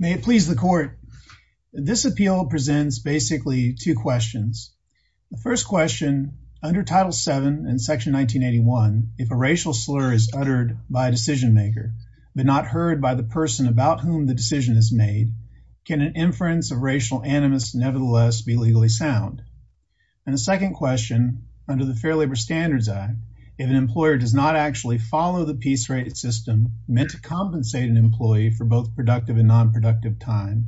May it please the court. This appeal presents basically two questions. The first question, under Title VII in Section 1981, if a racial slur is uttered by a decision maker but not heard by the person about whom the decision is made, can an inference of racial animus nevertheless be legally sound? And the second question, under the Fair Labor Standards Act, if an employer does not actually follow the peace rate system meant to compensate an employee for both productive and non-productive time,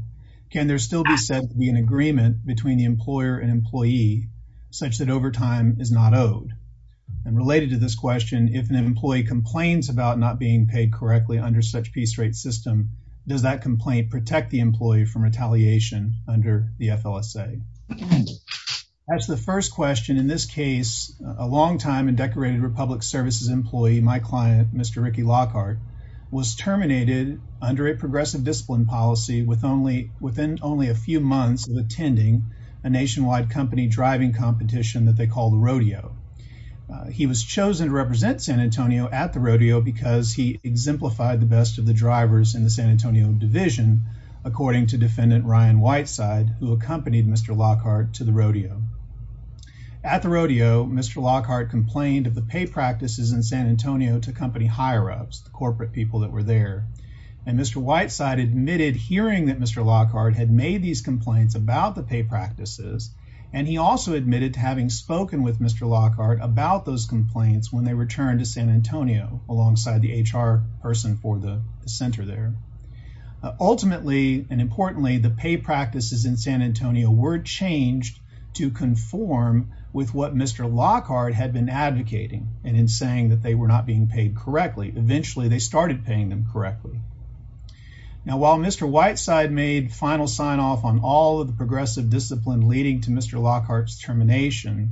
can there still be said to be an agreement between the employer and employee such that overtime is not owed? And related to this question, if an employee complains about not being paid correctly under such peace rate system, does that complaint protect the employee from retaliation under the FLSA? That's the first question. In this case, a longtime and decorated Republic Services employee, my client, Mr. Ricky Lockhart, was terminated under a progressive discipline policy within only a few months of attending a nationwide company driving competition that they call the rodeo. He was chosen to represent San Antonio at the rodeo because he exemplified the best of the drivers in the San Antonio division, according to defendant Ryan Whiteside, who accompanied Mr. Lockhart to the rodeo. At the rodeo, Mr. Lockhart complained of the pay practices in San Antonio to company higher-ups, the corporate people that were there. And Mr. Whiteside admitted hearing that Mr. Lockhart had made these complaints about the pay practices, and he also admitted to having spoken with Mr. Lockhart about those complaints when they returned to San Antonio alongside the HR person for the center there. Ultimately, and importantly, the pay practices in San Antonio were changed to conform with what Mr. Lockhart had been advocating and in saying that they were not being paid correctly. Eventually, they started paying them correctly. Now, while Mr. Whiteside made final sign-off on all of the progressive discipline leading to Mr. Lockhart's termination,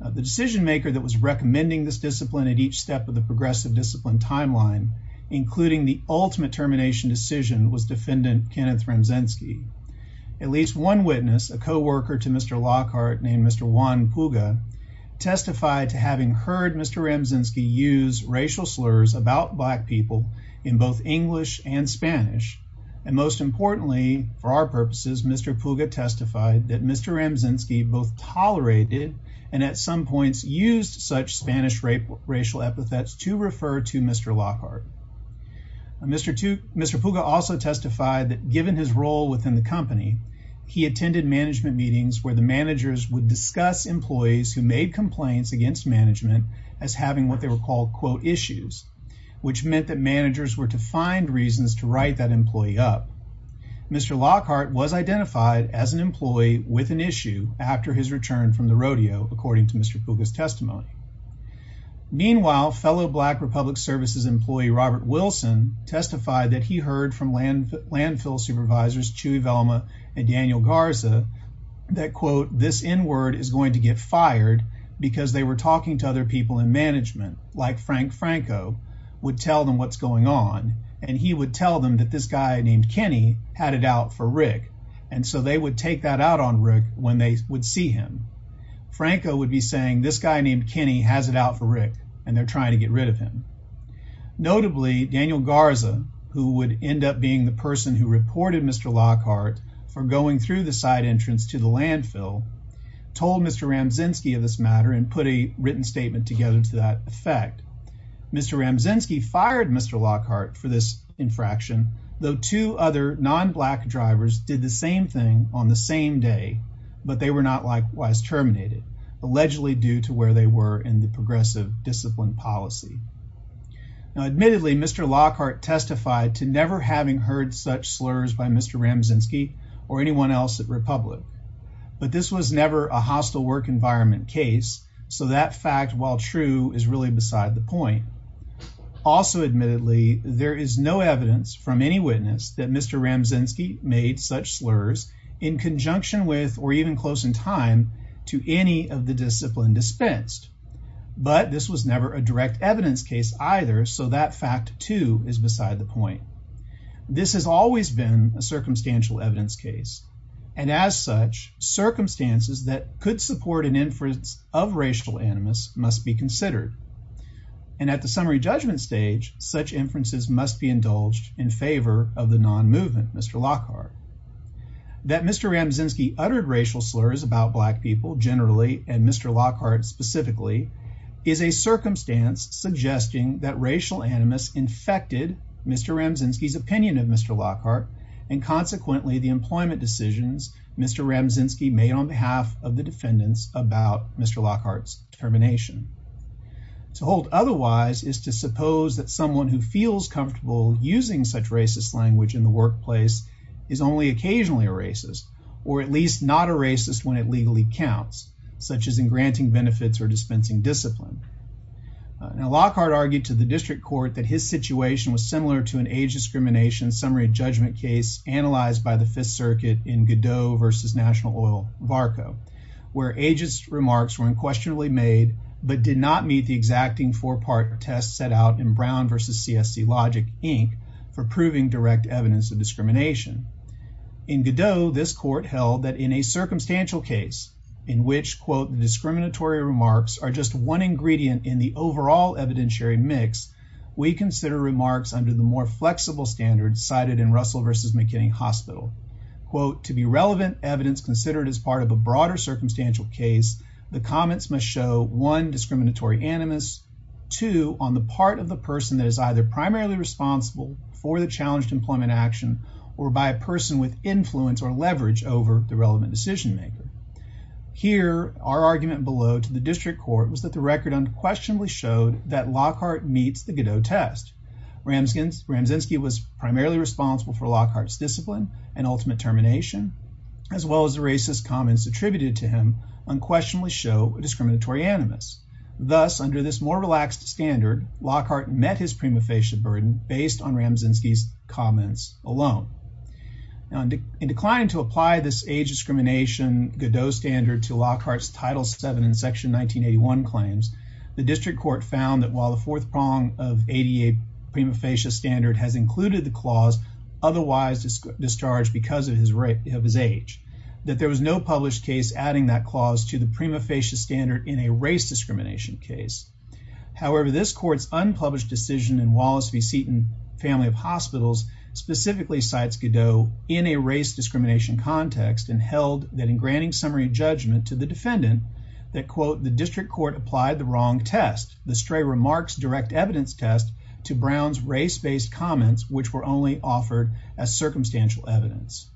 the decision maker that was recommending this discipline at each step of the progressive discipline timeline, including the ultimate termination decision, was defendant Kenneth Ramczynski. At least one witness, a co-worker to Mr. Lockhart named Mr. Juan Puga, testified to having heard Mr. Ramczynski use racial slurs about black people in both English and Spanish. And most importantly, for our purposes, Mr. Puga testified that Mr. Ramczynski both tolerated and at some points used such Spanish racial epithets to refer to Mr. Lockhart. Mr. Puga also testified that given his role within the company, he attended management meetings where the managers would discuss employees who made complaints against management as having what they were called, quote, issues, which meant that managers were to find reasons to write that employee up. Mr. Lockhart was identified as an employee with an issue after his return from the rodeo, according to Mr. Puga's testimony. Meanwhile, fellow black public services employee Robert Wilson testified that he heard from landfill supervisors Chewie Velma and Daniel Garza that, quote, this n-word is going to get fired because they were talking to other people in management, like Frank Franco, would tell them what's going on and he would tell them that this guy named Kenny had it out for Rick, and so they would take that out on Rick when they would see him. Franco would be saying this guy named Kenny has it out for Rick and they're trying to get rid of him. Notably, Daniel Garza, who would end up being the person who reported Mr. Lockhart for going through the side entrance to the landfill, told Mr. Ramczynski of this matter and put a written statement together to that effect. Mr. Ramczynski fired Mr. Lockhart for this infraction, though two other non-black drivers did the same thing on the same day, but they were not terminated, allegedly due to where they were in the progressive discipline policy. Now, admittedly, Mr. Lockhart testified to never having heard such slurs by Mr. Ramczynski or anyone else at Republic, but this was never a hostile work environment case, so that fact, while true, is really beside the point. Also admittedly, there is no evidence from any witness that Mr. Ramczynski made such slurs in conjunction with or even close in time to any of the discipline dispensed, but this was never a direct evidence case either, so that fact, too, is beside the point. This has always been a circumstantial evidence case, and as such, circumstances that could support an inference of racial animus must be considered, and at the summary judgment stage, such inferences must be that Mr. Ramczynski uttered racial slurs about black people generally and Mr. Lockhart specifically is a circumstance suggesting that racial animus infected Mr. Ramczynski's opinion of Mr. Lockhart and consequently the employment decisions Mr. Ramczynski made on behalf of the defendants about Mr. Lockhart's termination. To hold otherwise is to suppose that someone who feels comfortable using such racist language in the workplace is only occasionally a racist or at least not a racist when it legally counts, such as in granting benefits or dispensing discipline. Now, Lockhart argued to the district court that his situation was similar to an age discrimination summary judgment case analyzed by the Fifth Circuit in Godot versus National Oil-Varco, where ageist remarks were unquestionably made but did not meet the exacting four-part test set out in Brown versus CSC Logic for proving direct evidence of discrimination. In Godot, this court held that in a circumstantial case in which, quote, the discriminatory remarks are just one ingredient in the overall evidentiary mix, we consider remarks under the more flexible standards cited in Russell versus McKinney Hospital. Quote, to be relevant evidence considered as part of a broader circumstantial case, the comments must show, one, discriminatory animus, two, on the part of the person that is either primarily responsible for the challenged employment action or by a person with influence or leverage over the relevant decision-maker. Here, our argument below to the district court was that the record unquestionably showed that Lockhart meets the Godot test. Ramzynski was primarily responsible for Lockhart's discipline and ultimate termination, as well as the racist comments attributed to him unquestionably show a discriminatory animus. Thus, under this more relaxed standard, Lockhart met his prima facie burden based on Ramzynski's comments alone. Now, in declining to apply this age discrimination Godot standard to Lockhart's Title VII in Section 1981 claims, the district court found that while the fourth prong of ADA prima facie standard has included the clause, otherwise discharged because of his age, that there was no published case adding that clause to the prima facie standard in a race discrimination case. However, this court's unpublished decision in Wallace v. Seton, Family of Hospitals, specifically cites Godot in a race discrimination context and held that in granting summary judgment to the defendant that, quote, the district court applied the wrong test, the stray remarks direct evidence test, to Brown's race-based comments, which were only offered as circumstantial evidence.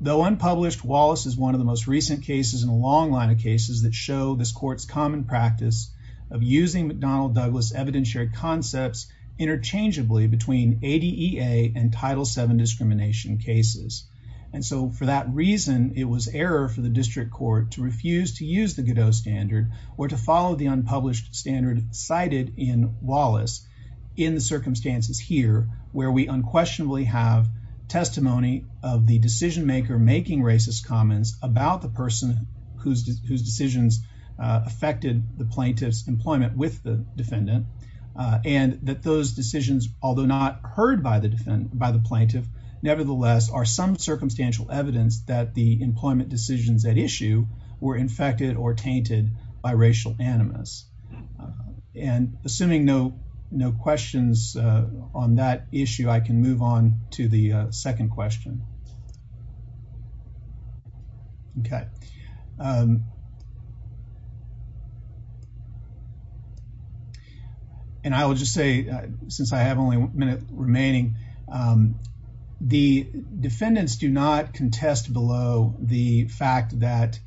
Though unpublished, Wallace is one of the most recent cases in a long line of cases that show this court's common practice of using McDonnell-Douglas evidentiary concepts interchangeably between ADA and Title VII discrimination cases. And so, for that reason, it was error for the district court to refuse to use the Godot standard or to follow the unpublished standard cited in the circumstances here, where we unquestionably have testimony of the decision-maker making racist comments about the person whose decisions affected the plaintiff's employment with the defendant, and that those decisions, although not heard by the plaintiff, nevertheless are some circumstantial evidence that the employment decisions at issue were infected or tainted by racial animus. And, assuming no questions on that issue, I can move on to the second question. Okay. And I will just say, since I have only a minute remaining, the defendants do not contest below the fact that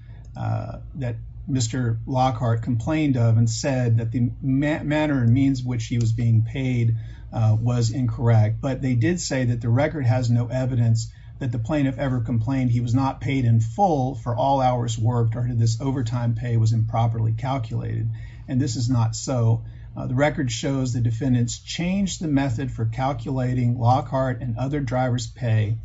Mr. Lockhart complained of and said that the manner and means which he was being paid was incorrect, but they did say that the record has no evidence that the plaintiff ever complained he was not paid in full for all hours worked or this overtime pay was improperly calculated, and this is not so. The record shows the defendants changed the method for calculating Lockhart and other drivers' pay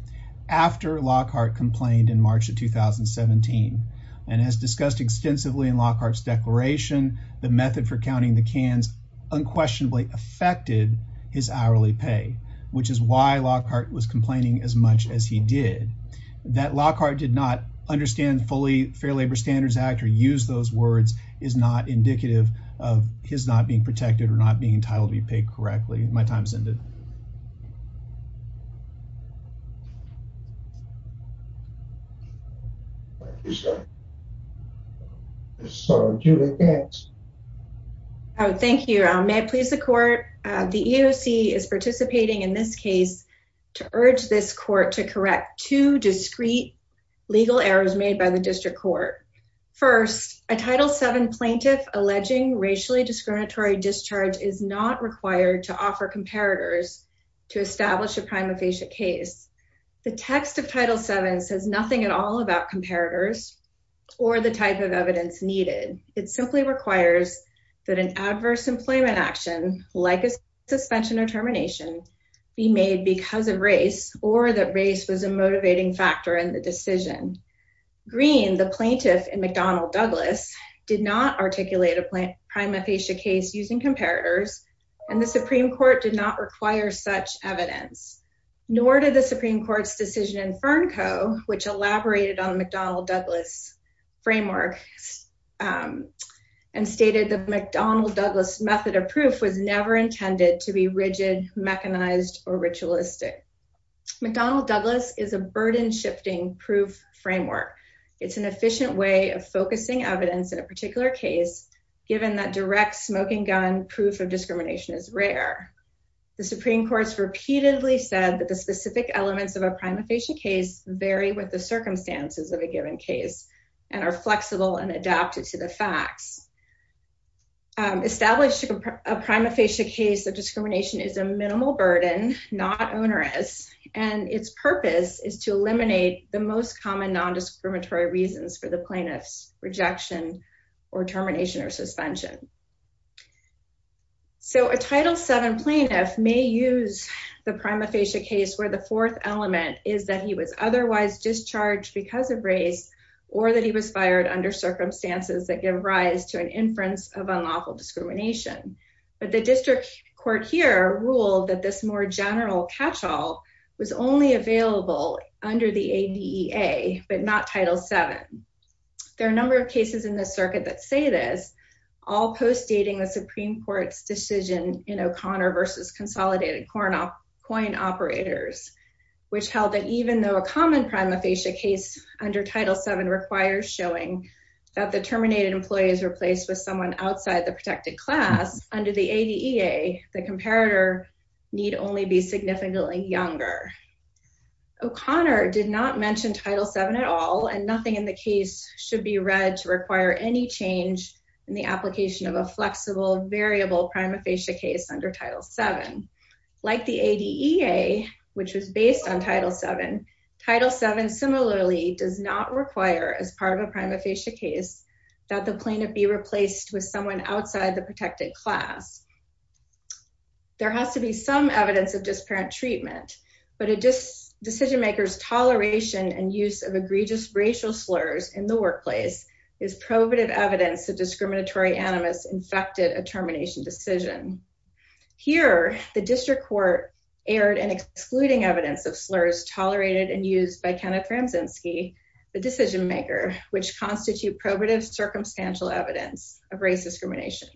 after Lockhart complained in March of 2017, and as discussed extensively in Lockhart's declaration, the method for counting the cans unquestionably affected his hourly pay, which is why Lockhart was complaining as much as he did. That Lockhart did not understand fully Fair Labor Standards Act or use those words is not indicative of his not being protected or not being entitled to be paid correctly. My time's ended. So, Julie, thanks. Oh, thank you. May I please the court? The EOC is participating in this case to urge this court to correct two discreet legal errors made by the district court. First, a Title VII plaintiff alleging racially discriminatory discharge is not required to offer comparators to establish a prima facie case. The text of Title VII says nothing at all about comparators or the type of evidence needed. It simply requires that an adverse employment action, like a suspension or termination, be made because of race or that race was a motivating factor in the decision. Green, the plaintiff in McDonnell Douglas, did not articulate a prima facie case using comparators, and the Supreme Court did not require such evidence, nor did the Supreme Court's decision in Fern Co, which elaborated on McDonnell Douglas framework and stated that McDonnell Douglas method of proof was never intended to be rigid, mechanized, or ritualistic. McDonnell Douglas is a burden shifting proof framework. It's an efficient way of focusing evidence in a particular case, given that direct smoking gun proof of discrimination is rare. The Supreme Court's repeatedly said that the specific elements of a prima facie case vary with the circumstances of a given case and are flexible and adapted to the facts. Establishing a prima facie case of discrimination is a minimal burden, not onerous, and its purpose is to eliminate the most common nondiscriminatory reasons for the plaintiff's rejection or termination or suspension. A Title VII plaintiff may use the prima facie case where the fourth element is that he was otherwise discharged because of race or that he was fired under circumstances that give rise to an inference of unlawful discrimination, but the district court here ruled that this more general catch-all was only available under the ADEA, but not Title VII. There are a number of cases in the circuit that say this, all postdating the Supreme Court's decision in O'Connor v. Consolidated Coin Operators, which held that even though a common prima facie case under Title VII requires showing that the terminated employee is replaced with someone outside the protected class, under the ADEA, the comparator need only be significantly younger. O'Connor did not mention Title VII at all, and nothing in the case should be read to require any change in the application of a flexible, variable prima facie case under Title VII. Like the ADEA, which was based on Title VII, Title VII similarly does not require, as part of a prima facie case, that the plaintiff be replaced with someone outside the protected class. There has to be some evidence of disparate treatment, but a decision maker's toleration and use of egregious racial slurs in the workplace is probative evidence that discriminatory animus infected a termination decision. Here, the district court aired an excluding evidence of slurs tolerated and used by Kenneth as circumstantial evidence of race discrimination.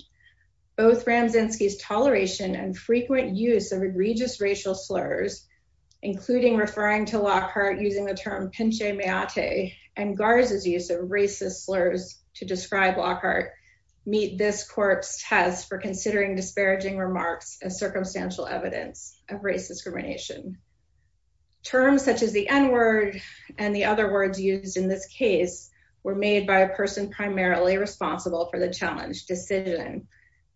Both Ramzynski's toleration and frequent use of egregious racial slurs, including referring to Lockhart using the term pinche meate, and Garza's use of racist slurs to describe Lockhart, meet this court's test for considering disparaging remarks as circumstantial evidence of race discrimination. Terms such as the n-word and the other words used in this case were made by a person primarily responsible for the challenge decision.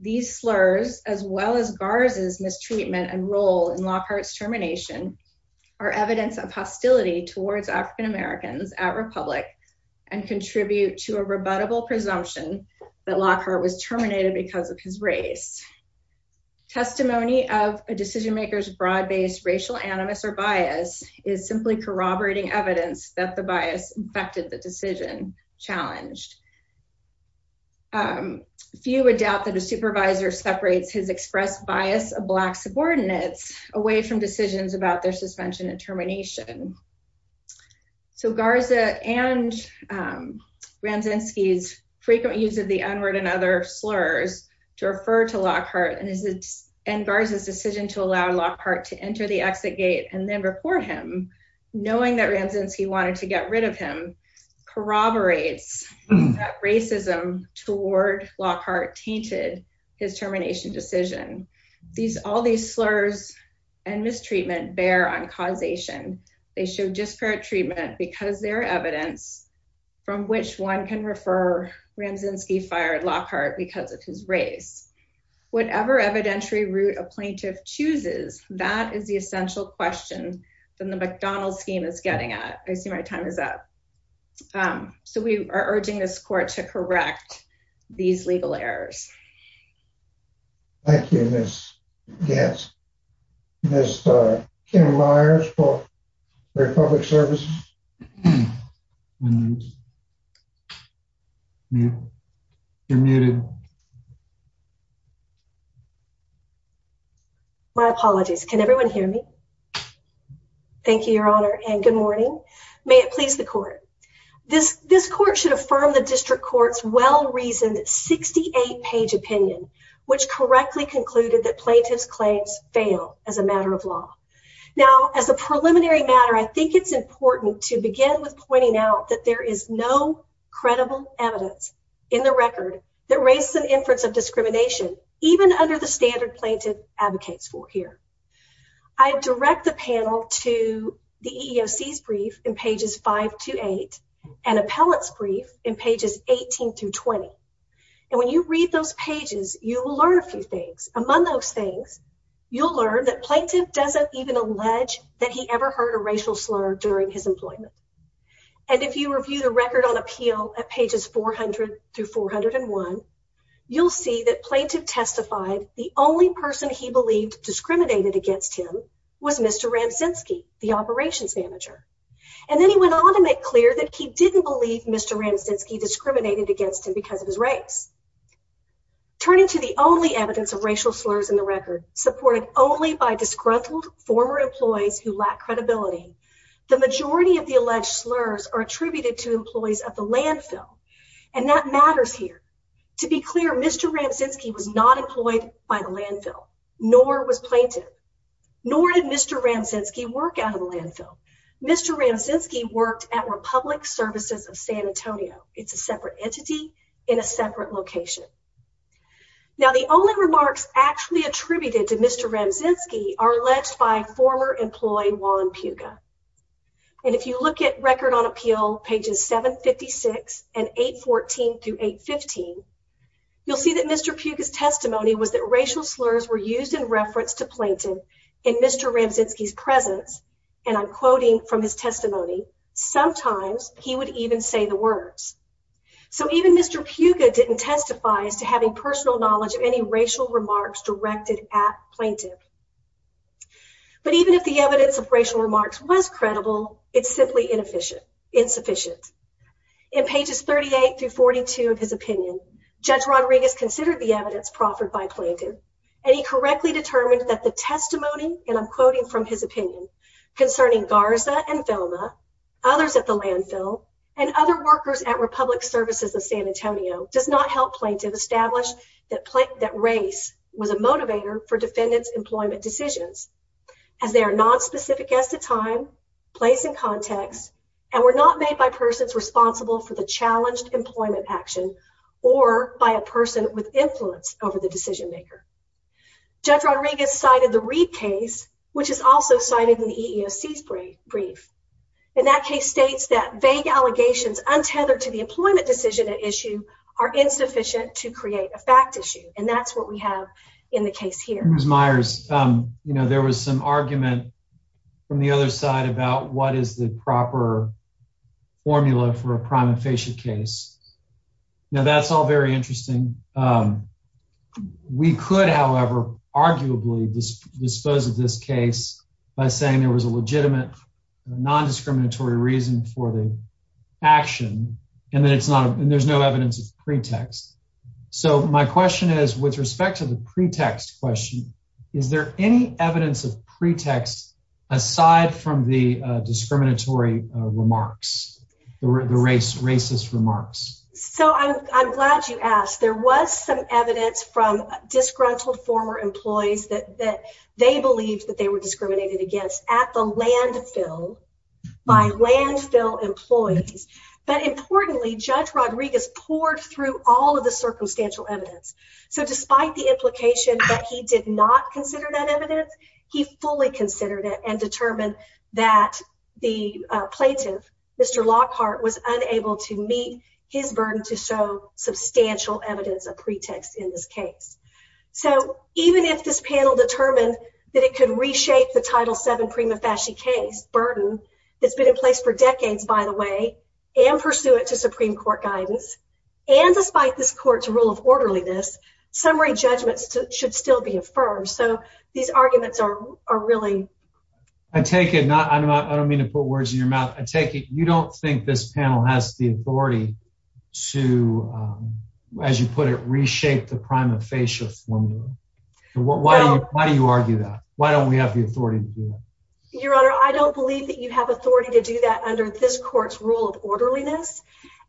These slurs, as well as Garza's mistreatment and role in Lockhart's termination, are evidence of hostility towards African Americans at Republic and contribute to a rebuttable presumption that Lockhart was terminated because of his race. Testimony of a decision broad based racial animus or bias is simply corroborating evidence that the bias affected the decision challenged. Few would doubt that a supervisor separates his expressed bias of black subordinates away from decisions about their suspension and termination. So Garza and Ramzynski's frequent use of the n-word and other slurs to refer to Lockhart and Garza's decision to allow Lockhart to enter the exit gate and then report him, knowing that Ramzynski wanted to get rid of him, corroborates that racism toward Lockhart tainted his termination decision. All these slurs and mistreatment bear on causation. They show disparate treatment because they're evidence from which one can refer Ramzynski fired Lockhart because of his race. Whatever evidentiary route a plaintiff chooses, that is the essential question than the McDonald scheme is getting at. I see my time is up. So we are urging this court to correct these legal errors. Thank you, Ms. Gantz. Ms. Kim Meyers for Republic Services. My apologies. Can everyone hear me? Thank you, Your Honor, and good morning. May it please the court. This court should affirm the district court's well-reasoned 68-page opinion, which correctly concluded that plaintiff's claims fail as a matter of law. Now, as a preliminary matter, I think it's important to begin with pointing out that there is no credible evidence in the record that raises an inference of discrimination, even under the standard plaintiff advocates for here. I direct the panel to the EEOC's brief in pages 5 to 8 and appellate's brief in pages 18 through 20. And when you read those pages, you will learn a few things. Among those things, you'll learn that And if you review the record on appeal at pages 400 through 401, you'll see that plaintiff testified the only person he believed discriminated against him was Mr. Ramczynski, the operations manager. And then he went on to make clear that he didn't believe Mr. Ramczynski discriminated against him because of his race. Turning to the only evidence of racial slurs in the record supported only by The majority of the alleged slurs are attributed to employees of the landfill, and that matters here. To be clear, Mr. Ramczynski was not employed by the landfill, nor was plaintiff, nor did Mr. Ramczynski work out of the landfill. Mr. Ramczynski worked at Republic Services of San Antonio. It's a separate entity in a separate location. Now, the only remarks actually attributed to Mr. Ramczynski are alleged by former employee Juan Puga. And if you look at record on appeal pages 756 and 814 through 815, you'll see that Mr. Puga's testimony was that racial slurs were used in reference to plaintiff in Mr. Ramczynski's presence, and I'm quoting from his testimony, sometimes he would even say the words. So even Mr. Puga didn't testify as to having personal knowledge of any racial remarks directed at It's simply inefficient, insufficient. In pages 38 through 42 of his opinion, Judge Rodriguez considered the evidence proffered by plaintiff, and he correctly determined that the testimony, and I'm quoting from his opinion, concerning Garza and Filma, others at the landfill, and other workers at Republic Services of San Antonio does not help plaintiff establish that race was a motivator for defendant's employment decisions, as they are not specific as to time, place, and context, and were not made by persons responsible for the challenged employment action, or by a person with influence over the decision maker. Judge Rodriguez cited the Reid case, which is also cited in the EEOC's brief. And that case states that vague allegations untethered to the employment decision at issue are insufficient to create a fact issue. And that's what we have in the case here. Ms. Myers, you know, there was some argument from the other side about what is the proper formula for a prima facie case. Now, that's all very interesting. We could, however, arguably dispose of this case by saying there was a legitimate, non-discriminatory reason for the action, and then it's not, and there's no evidence of pretext. So my question is, with respect to the pretext question, is there any evidence of pretext aside from the discriminatory remarks, the racist remarks? So I'm glad you asked. There was some evidence from disgruntled former employees that they believed that they were discriminated against at the landfill, by landfill employees. But importantly, Judge Rodriguez poured through all of the circumstantial evidence. So despite the implication that he did not consider that evidence, he fully considered it and determined that the plaintiff, Mr. Lockhart, was unable to meet his burden to show substantial evidence of pretext in this case. So even if this panel determined that it could reshape the Title VII prima facie case burden that's been in place for decades, by the way, and pursuant to Supreme Court rule of orderliness, summary judgments should still be affirmed. So these arguments are really... I take it, not, I don't mean to put words in your mouth, I take it you don't think this panel has the authority to, as you put it, reshape the prima facie formula. Why do you argue that? Why don't we have the authority to do that? Your Honor, I don't believe that you have authority to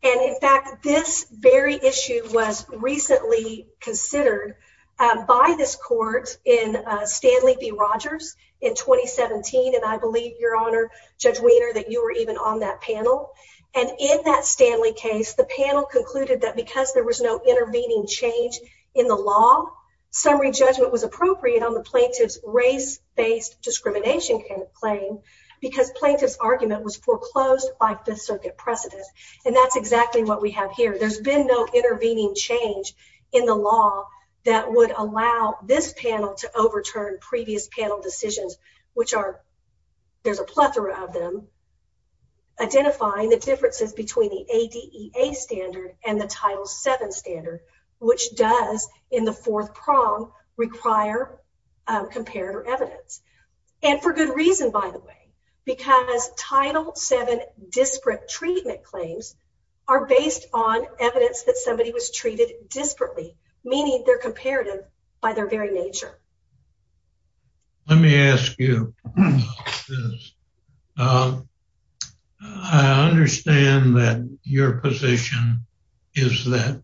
And in fact, this very issue was recently considered by this court in Stanley v. Rogers in 2017, and I believe, Your Honor, Judge Wiener, that you were even on that panel. And in that Stanley case, the panel concluded that because there was no intervening change in the law, summary judgment was appropriate on the plaintiff's race-based discrimination claim because plaintiff's argument was foreclosed by Fifth Circuit precedent. And that's exactly what we have here. There's been no intervening change in the law that would allow this panel to overturn previous panel decisions, which are, there's a plethora of them, identifying the differences between the ADEA standard and the Title VII standard, which does, in the fourth prong, require comparator evidence. And for good reason, by the way, because Title VII disparate treatment claims are based on evidence that somebody was treated disparately, meaning they're comparative by their very nature. Let me ask you this. I understand that your position is that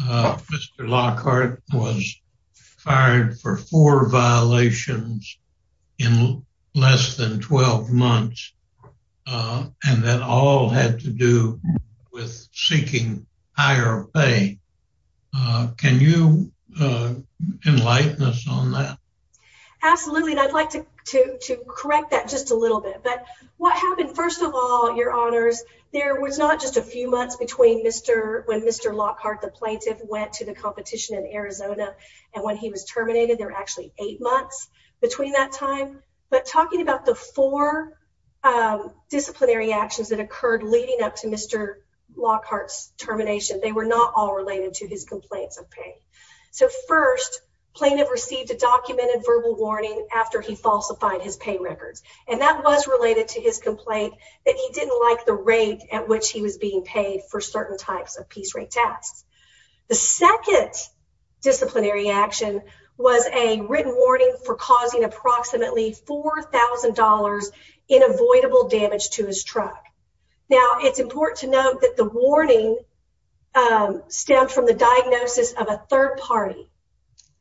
Mr. Lockhart was fired for four violations in less than 12 months, and that all had to do with seeking higher pay. Can you enlighten us on that? Absolutely, and I'd like to correct that just a little bit. But what happened, first of all, Your Honors, there was not just a few months between when Mr. Lockhart, the plaintiff, went to the competition in Arizona, and when he was terminated, there were eight months between that time. But talking about the four disciplinary actions that occurred leading up to Mr. Lockhart's termination, they were not all related to his complaints of pay. So first, plaintiff received a documented verbal warning after he falsified his pay records, and that was related to his complaint that he didn't like the rate at which he was being paid for causing approximately $4,000 in avoidable damage to his truck. Now, it's important to note that the warning stemmed from the diagnosis of a third party.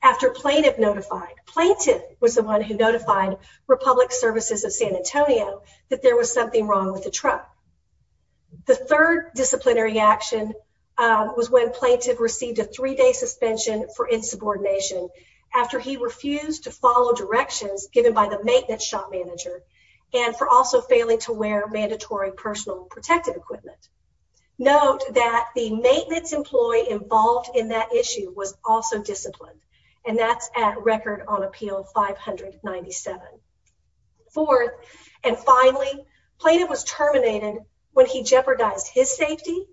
After plaintiff notified, plaintiff was the one who notified Republic Services of San Antonio that there was something wrong with the truck. The third disciplinary action was when plaintiff received a three-day suspension for to follow directions given by the maintenance shop manager and for also failing to wear mandatory personal protective equipment. Note that the maintenance employee involved in that issue was also disciplined, and that's at Record on Appeal 597. Fourth, and finally, plaintiff was terminated when he jeopardized his safety,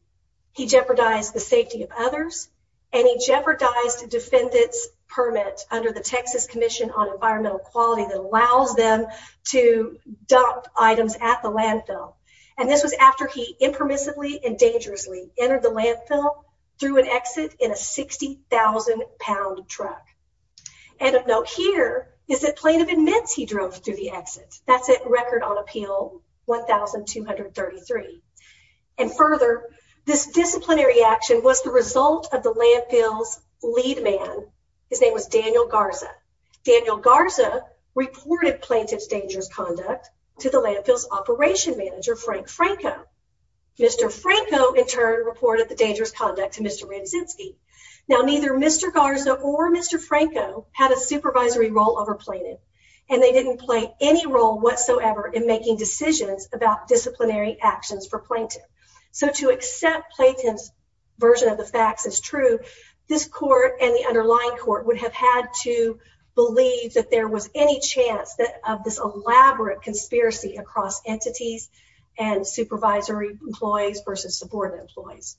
he jeopardized the safety of others, and he jeopardized defendant's under the Texas Commission on Environmental Quality that allows them to dump items at the landfill. And this was after he impermissibly and dangerously entered the landfill through an exit in a 60,000 pound truck. And of note here is that plaintiff admits he drove through the exit. That's at Record on Appeal 1,233. And further, this disciplinary action was the result of the landfill's lead man. His name was Daniel Garza. Daniel Garza reported plaintiff's dangerous conduct to the landfill's operation manager, Frank Franco. Mr. Franco, in turn, reported the dangerous conduct to Mr. Radzinski. Now, neither Mr. Garza or Mr. Franco had a supervisory role over plaintiff, and they didn't play any role whatsoever in making decisions about disciplinary actions for plaintiff. So to accept Plaintiff's version of the facts as true, this court and the underlying court would have had to believe that there was any chance that of this elaborate conspiracy across entities and supervisory employees versus subordinate employees.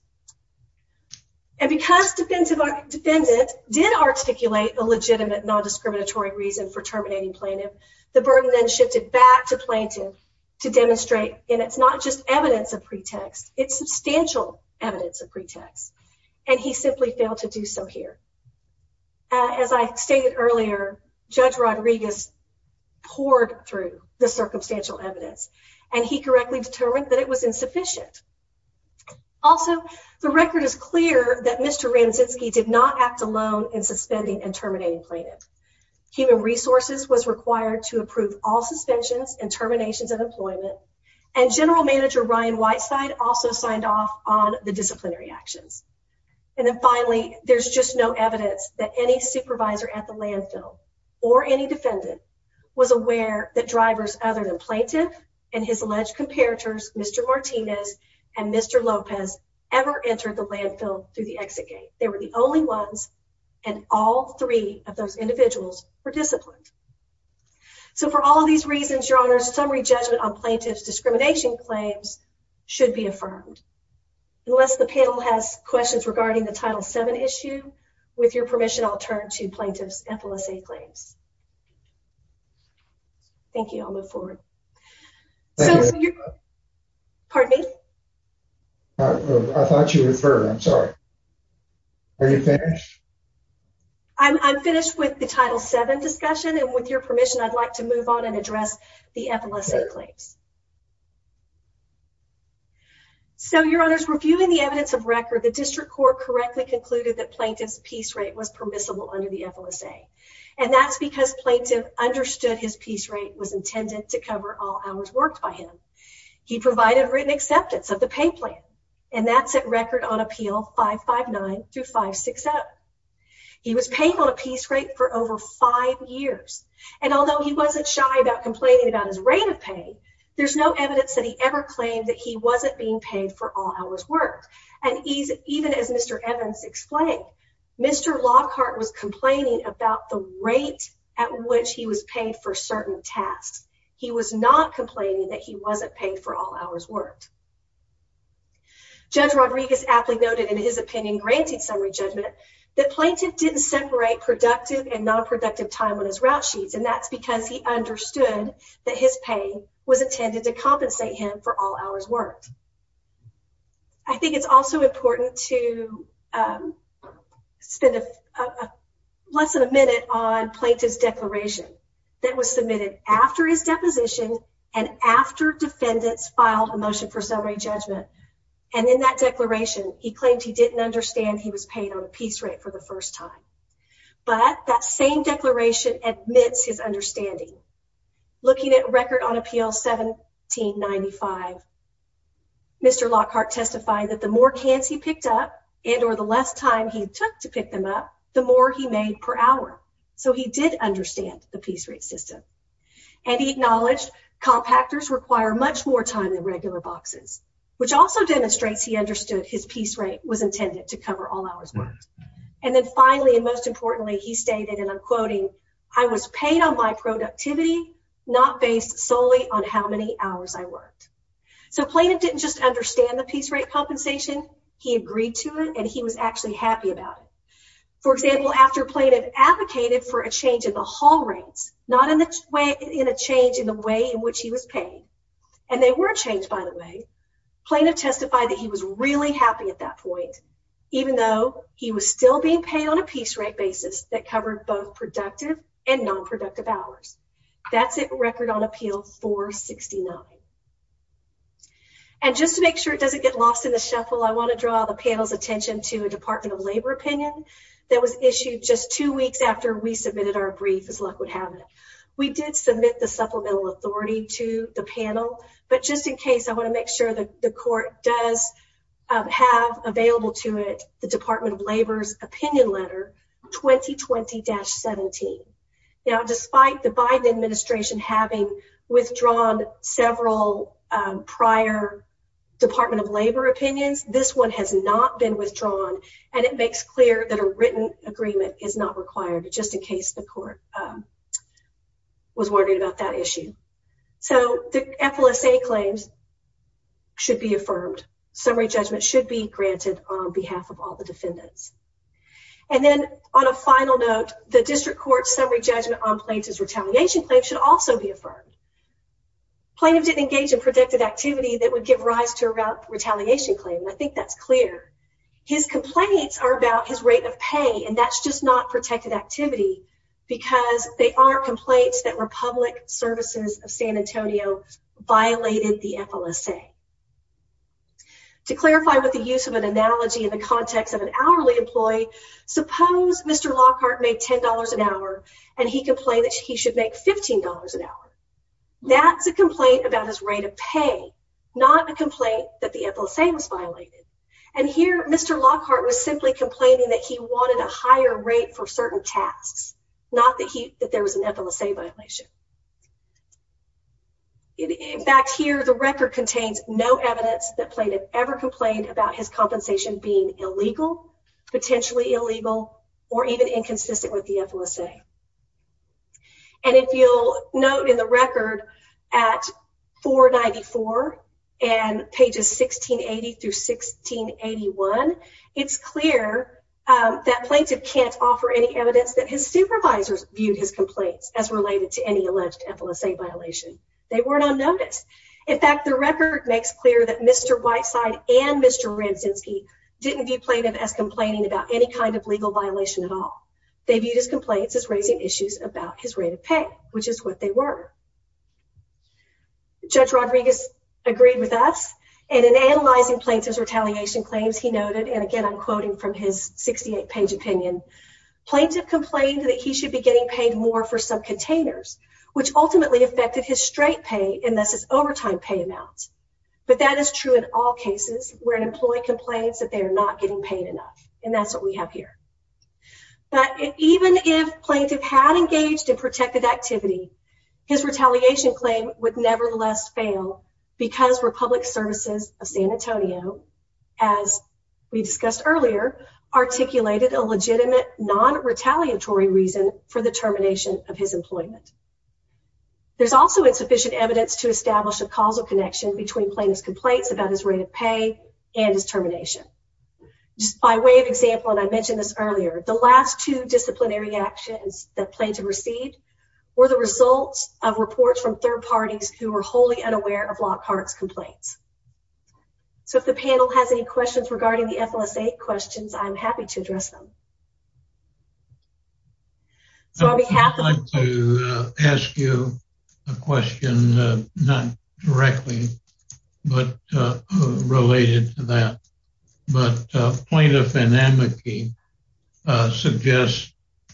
And because defendant did articulate a legitimate non-discriminatory reason for terminating plaintiff, the burden then shifted back to plaintiff to demonstrate, and it's not just evidence of pretext, it's substantial evidence of pretext. And he simply failed to do so here. As I stated earlier, Judge Rodriguez poured through the circumstantial evidence, and he correctly determined that it was insufficient. Also, the record is clear that Mr. Radzinski did not act alone in suspending and terminating suspensions and terminations of employment, and General Manager Ryan Whiteside also signed off on the disciplinary actions. And then finally, there's just no evidence that any supervisor at the landfill or any defendant was aware that drivers other than plaintiff and his alleged comparators Mr. Martinez and Mr. Lopez ever entered the landfill through the exit gate. They were the only ones, and all three of those individuals were disciplined. So for all of these reasons, Your Honor, summary judgment on plaintiff's discrimination claims should be affirmed. Unless the panel has questions regarding the Title VII issue, with your permission, I'll turn to plaintiff's FLSA claims. Thank you. I'll move forward. Pardon me? I thought you referred, I'm sorry. Are you finished? I'm finished with the Title VII discussion, and with your permission, I'd like to move on and address the FLSA claims. So, Your Honor, reviewing the evidence of record, the District Court correctly concluded that plaintiff's piece rate was permissible under the FLSA, and that's because plaintiff understood his piece rate was intended to cover all hours worked by him. He provided written acceptance of the pay and that's at record on appeal 559 through 560. He was paid on a piece rate for over five years, and although he wasn't shy about complaining about his rate of pay, there's no evidence that he ever claimed that he wasn't being paid for all hours worked, and even as Mr. Evans explained, Mr. Lockhart was complaining about the rate at which he was paid for certain tasks. He was not that he wasn't paid for all hours worked. Judge Rodriguez aptly noted in his opinion, granting summary judgment, that plaintiff didn't separate productive and non-productive time on his route sheets, and that's because he understood that his pay was intended to compensate him for all hours worked. I think it's also important to spend less than a minute on plaintiff's declaration that was submitted after his deposition and after defendants filed a motion for summary judgment, and in that declaration, he claimed he didn't understand he was paid on a piece rate for the first time, but that same declaration admits his understanding. Looking at record on appeal 1795, Mr. Lockhart testified that the more cans he picked up and or the less time he took to pick them up, the more he made per hour, so he did understand the piece rate system, and he acknowledged compactors require much more time than regular boxes, which also demonstrates he understood his piece rate was intended to cover all hours worked, and then finally and most importantly, he stated, and I'm quoting, I was paid on my productivity not based solely on how many hours I worked. So plaintiff didn't just understand the piece rate compensation, he agreed to it, and he was actually happy about it. For example, after plaintiff advocated for a change in the haul rates, not in the way in a change in the way in which he was paid, and they were changed by the way, plaintiff testified that he was really happy at that point, even though he was still being paid on a piece rate basis that covered both productive and non-productive hours. That's it record on appeal 469, and just to make sure it doesn't get lost in the shuffle, I want to draw the panel's attention to a Department of Labor opinion that was issued just two weeks after we submitted our brief, as luck would have it. We did submit the supplemental authority to the panel, but just in case, I want to make sure that the court does have available to it the Department of Labor's opinion letter 2020-17. Now, despite the Biden administration having withdrawn several prior Department of Labor opinions, this one has not been withdrawn, and it makes clear that a written agreement is not required, just in case the court was wondering about that issue. So, the FLSA claims should be affirmed. Summary judgment should be granted on behalf of all the defendants, and then on a final note, the district court summary judgment on plaintiff's retaliation claims should also be I think that's clear. His complaints are about his rate of pay, and that's just not protected activity, because they are complaints that Republic Services of San Antonio violated the FLSA. To clarify with the use of an analogy in the context of an hourly employee, suppose Mr. Lockhart made $10 an hour, and he complained that he should make $15 an hour. That's a complaint about his pay, not a complaint that the FLSA was violated. And here, Mr. Lockhart was simply complaining that he wanted a higher rate for certain tasks, not that there was an FLSA violation. In fact, here the record contains no evidence that plaintiff ever complained about his compensation being illegal, potentially illegal, or even inconsistent with the FLSA. And if you'll note in the record at 494 and pages 1680 through 1681, it's clear that plaintiff can't offer any evidence that his supervisors viewed his complaints as related to any alleged FLSA violation. They weren't on notice. In fact, the record makes clear that Mr. Whiteside and Mr. Ramczynski didn't view plaintiff as complaining about any kind of legal violation at all. They viewed his complaints as raising issues about his rate of pay, which is what they were. Judge Rodriguez agreed with us, and in analyzing plaintiff's retaliation claims, he noted, and again I'm quoting from his 68-page opinion, plaintiff complained that he should be getting paid more for subcontainers, which ultimately affected his straight pay, and thus his overtime pay amounts. But that is true in all cases where an employee complains that they are not getting paid enough, and that's what we have here. But even if plaintiff had engaged in protected activity, his retaliation claim would nevertheless fail because Republic Services of San Antonio, as we discussed earlier, articulated a legitimate non-retaliatory reason for the termination of his employment. There's also insufficient evidence to establish a causal connection between plaintiff's pay and his termination. Just by way of example, and I mentioned this earlier, the last two disciplinary actions that plaintiff received were the results of reports from third parties who were wholly unaware of Lockhart's complaints. So if the panel has any questions regarding the FLS-8 questions, I'm happy to address them. I'd like to ask you a question, not directly, but related to that. But plaintiff and amici suggest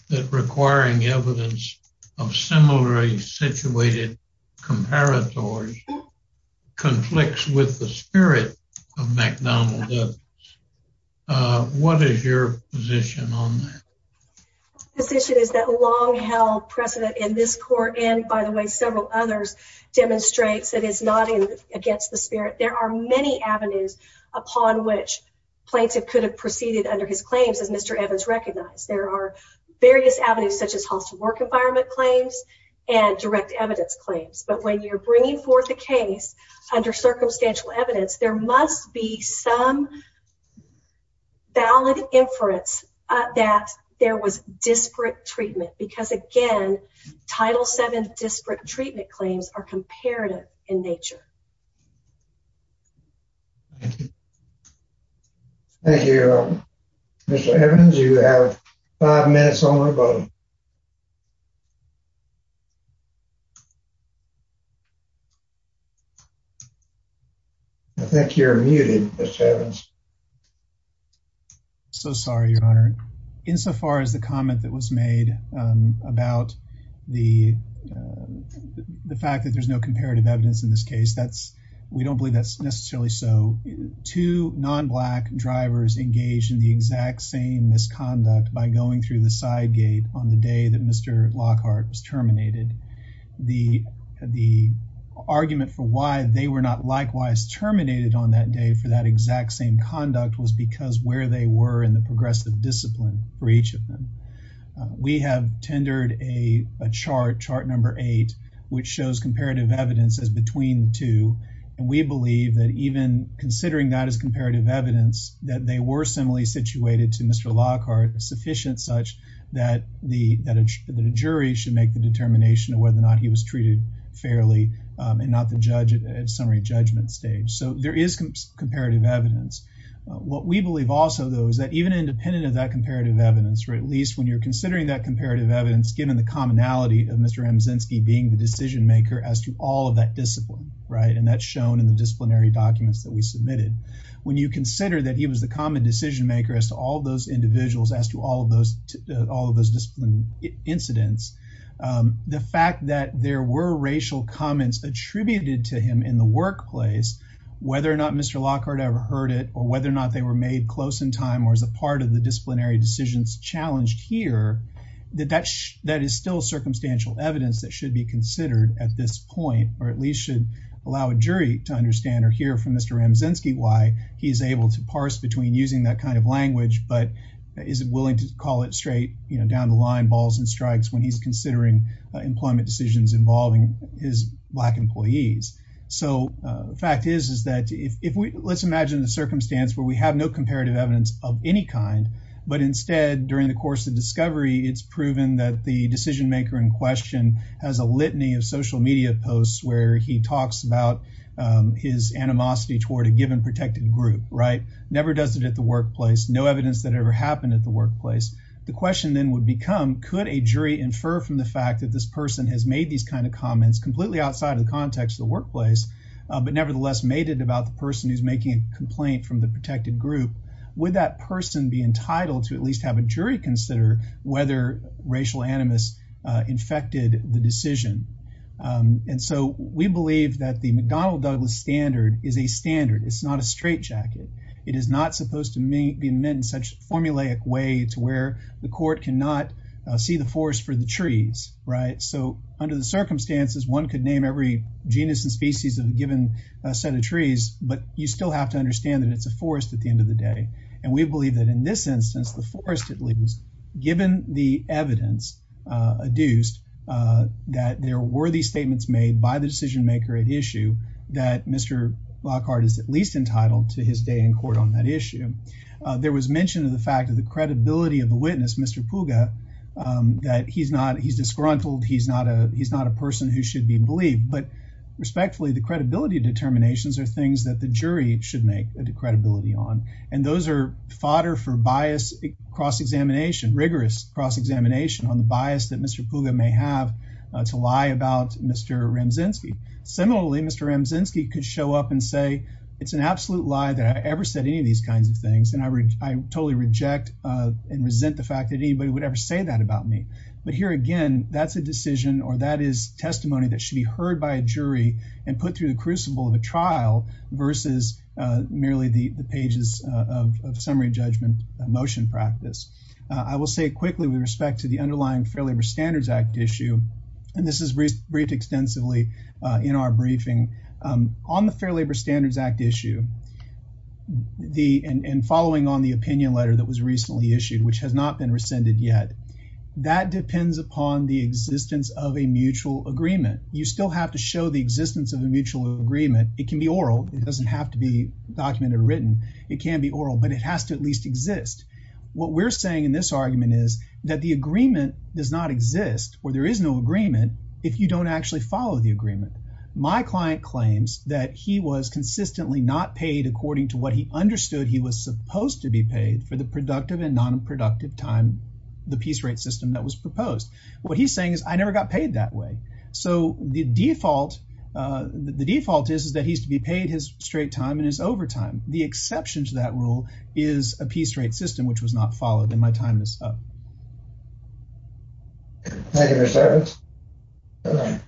that requiring evidence of similarly situated comparators conflicts with the spirit of McDonnell Douglas. What is your position on that? The position is that long-held precedent in this court, and by the way, several others, demonstrates that it's not against the spirit. There are many avenues upon which plaintiff could have proceeded under his claims, as Mr. Evans recognized. There are various avenues such as hostile work environment claims and direct evidence claims. But when you're bringing forth a case under circumstantial evidence, there must be some valid inference that there was disparate treatment. Because again, Title VII disparate treatment claims are comparative in nature. Thank you. Mr. Evans, you have five minutes on the vote. I think you're muted, Mr. Evans. So sorry, Your Honor. Insofar as the comment that was made about the fact that there's no comparative evidence in this case, we don't believe that's necessarily so. Two non-Black drivers engaged in the exact same misconduct by going through the side gate on the day that Mr. Lockhart was terminated. The argument for why they were not likewise terminated on that day for that exact same conduct was because where they were in the progressive discipline for each of them. We have tendered a chart, chart number eight, which shows comparative evidence as between two, and we believe that even considering that as comparative evidence, that they were similarly situated to Mr. Lockhart sufficient such that a jury should make the determination of whether or not he was treated fairly and not the judge at summary judgment stage. So there is comparative evidence. What we believe also though is that even independent of that comparative evidence, or at least when you're considering that comparative evidence, given the commonality of Mr. Amzinski being the decision maker as to all of that discipline, right? And that's shown in the disciplinary documents that we submitted. When you consider that he was the common decision maker as to all of those individuals, as to all of those, all of those discipline incidents, the fact that there were racial comments attributed to him in the workplace, whether or not Mr. Lockhart ever heard it, or whether or not they were made close in time, or as a part of the disciplinary decisions challenged here, that is still circumstantial evidence that should be considered at this point, or at least should allow a jury to understand or hear from Mr. Amzinski why he's able to parse between using that kind of language, but isn't willing to call it straight, you know, down the line balls and strikes when he's considering employment decisions involving his black employees. So the fact is, is that if we, let's imagine the circumstance where we have no comparative evidence of any kind, but instead during the course of discovery, it's proven that the decision maker in question has a litany of social media posts where he talks about his animosity toward a given protected group, right? Never does it at the workplace, no evidence that ever happened at the workplace. The question then would become, could a jury infer from the fact that this person has made these kinds of comments completely outside of the context of the workplace, but nevertheless made it about the person who's making a complaint from the protected group, would that person be entitled to at least have a jury consider whether racial animus infected the decision? And so we believe that the McDonnell Douglas standard is a standard. It's not a straight jacket. It is not supposed to be meant in such formulaic way to where the court cannot see the forest for the trees, right? So under the circumstances, one could name every genus and species of a given set of trees, but you still have to understand that it's a forest at the end of the day. And we believe that in this instance, the forest at least, given the evidence adduced, that there were these statements made by the decision maker at issue that Mr. Lockhart is at least entitled to his day in court on that issue. There was mention of the fact of the credibility of the witness, Mr. Puga, that he's not, he's disgruntled. He's not a, he's not a person who should be believed, but respectfully, the credibility determinations are things that the jury should make a credibility on. And those are fodder for bias cross-examination, rigorous cross-examination on the bias that Mr. Puga may have to lie about Mr. Ramczynski. Similarly, Mr. Ramczynski could show up and say, it's an absolute lie that I ever said any of these kinds of things, and I totally reject and resent the fact that anybody would ever say that about me. But here, again, that's a decision or that is testimony that should be heard by a jury and put through the crucible of a trial versus merely the pages of summary judgment motion practice. I will say quickly with respect to the underlying Fair Labor Standards Act issue, and this is briefed extensively in our briefing, on the Fair Labor Standards Act issue, the, and following on the opinion letter that was recently issued, which has not been rescinded yet, that depends upon the existence of a mutual agreement. You still have to show the existence of a mutual agreement. It can be oral. It doesn't have to be documented or written. It can be oral, but it has to at least that the agreement does not exist or there is no agreement if you don't actually follow the agreement. My client claims that he was consistently not paid according to what he understood he was supposed to be paid for the productive and non-productive time, the piece rate system that was proposed. What he's saying is I never got paid that way. So the default is that he's to be paid his straight time and his overtime. The exception to that rule is a piece rate system, which was not followed, and my time is up. Thank you, Mr. Evans.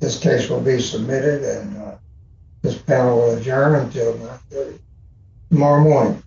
This case will be submitted and this panel will adjourn until tomorrow morning.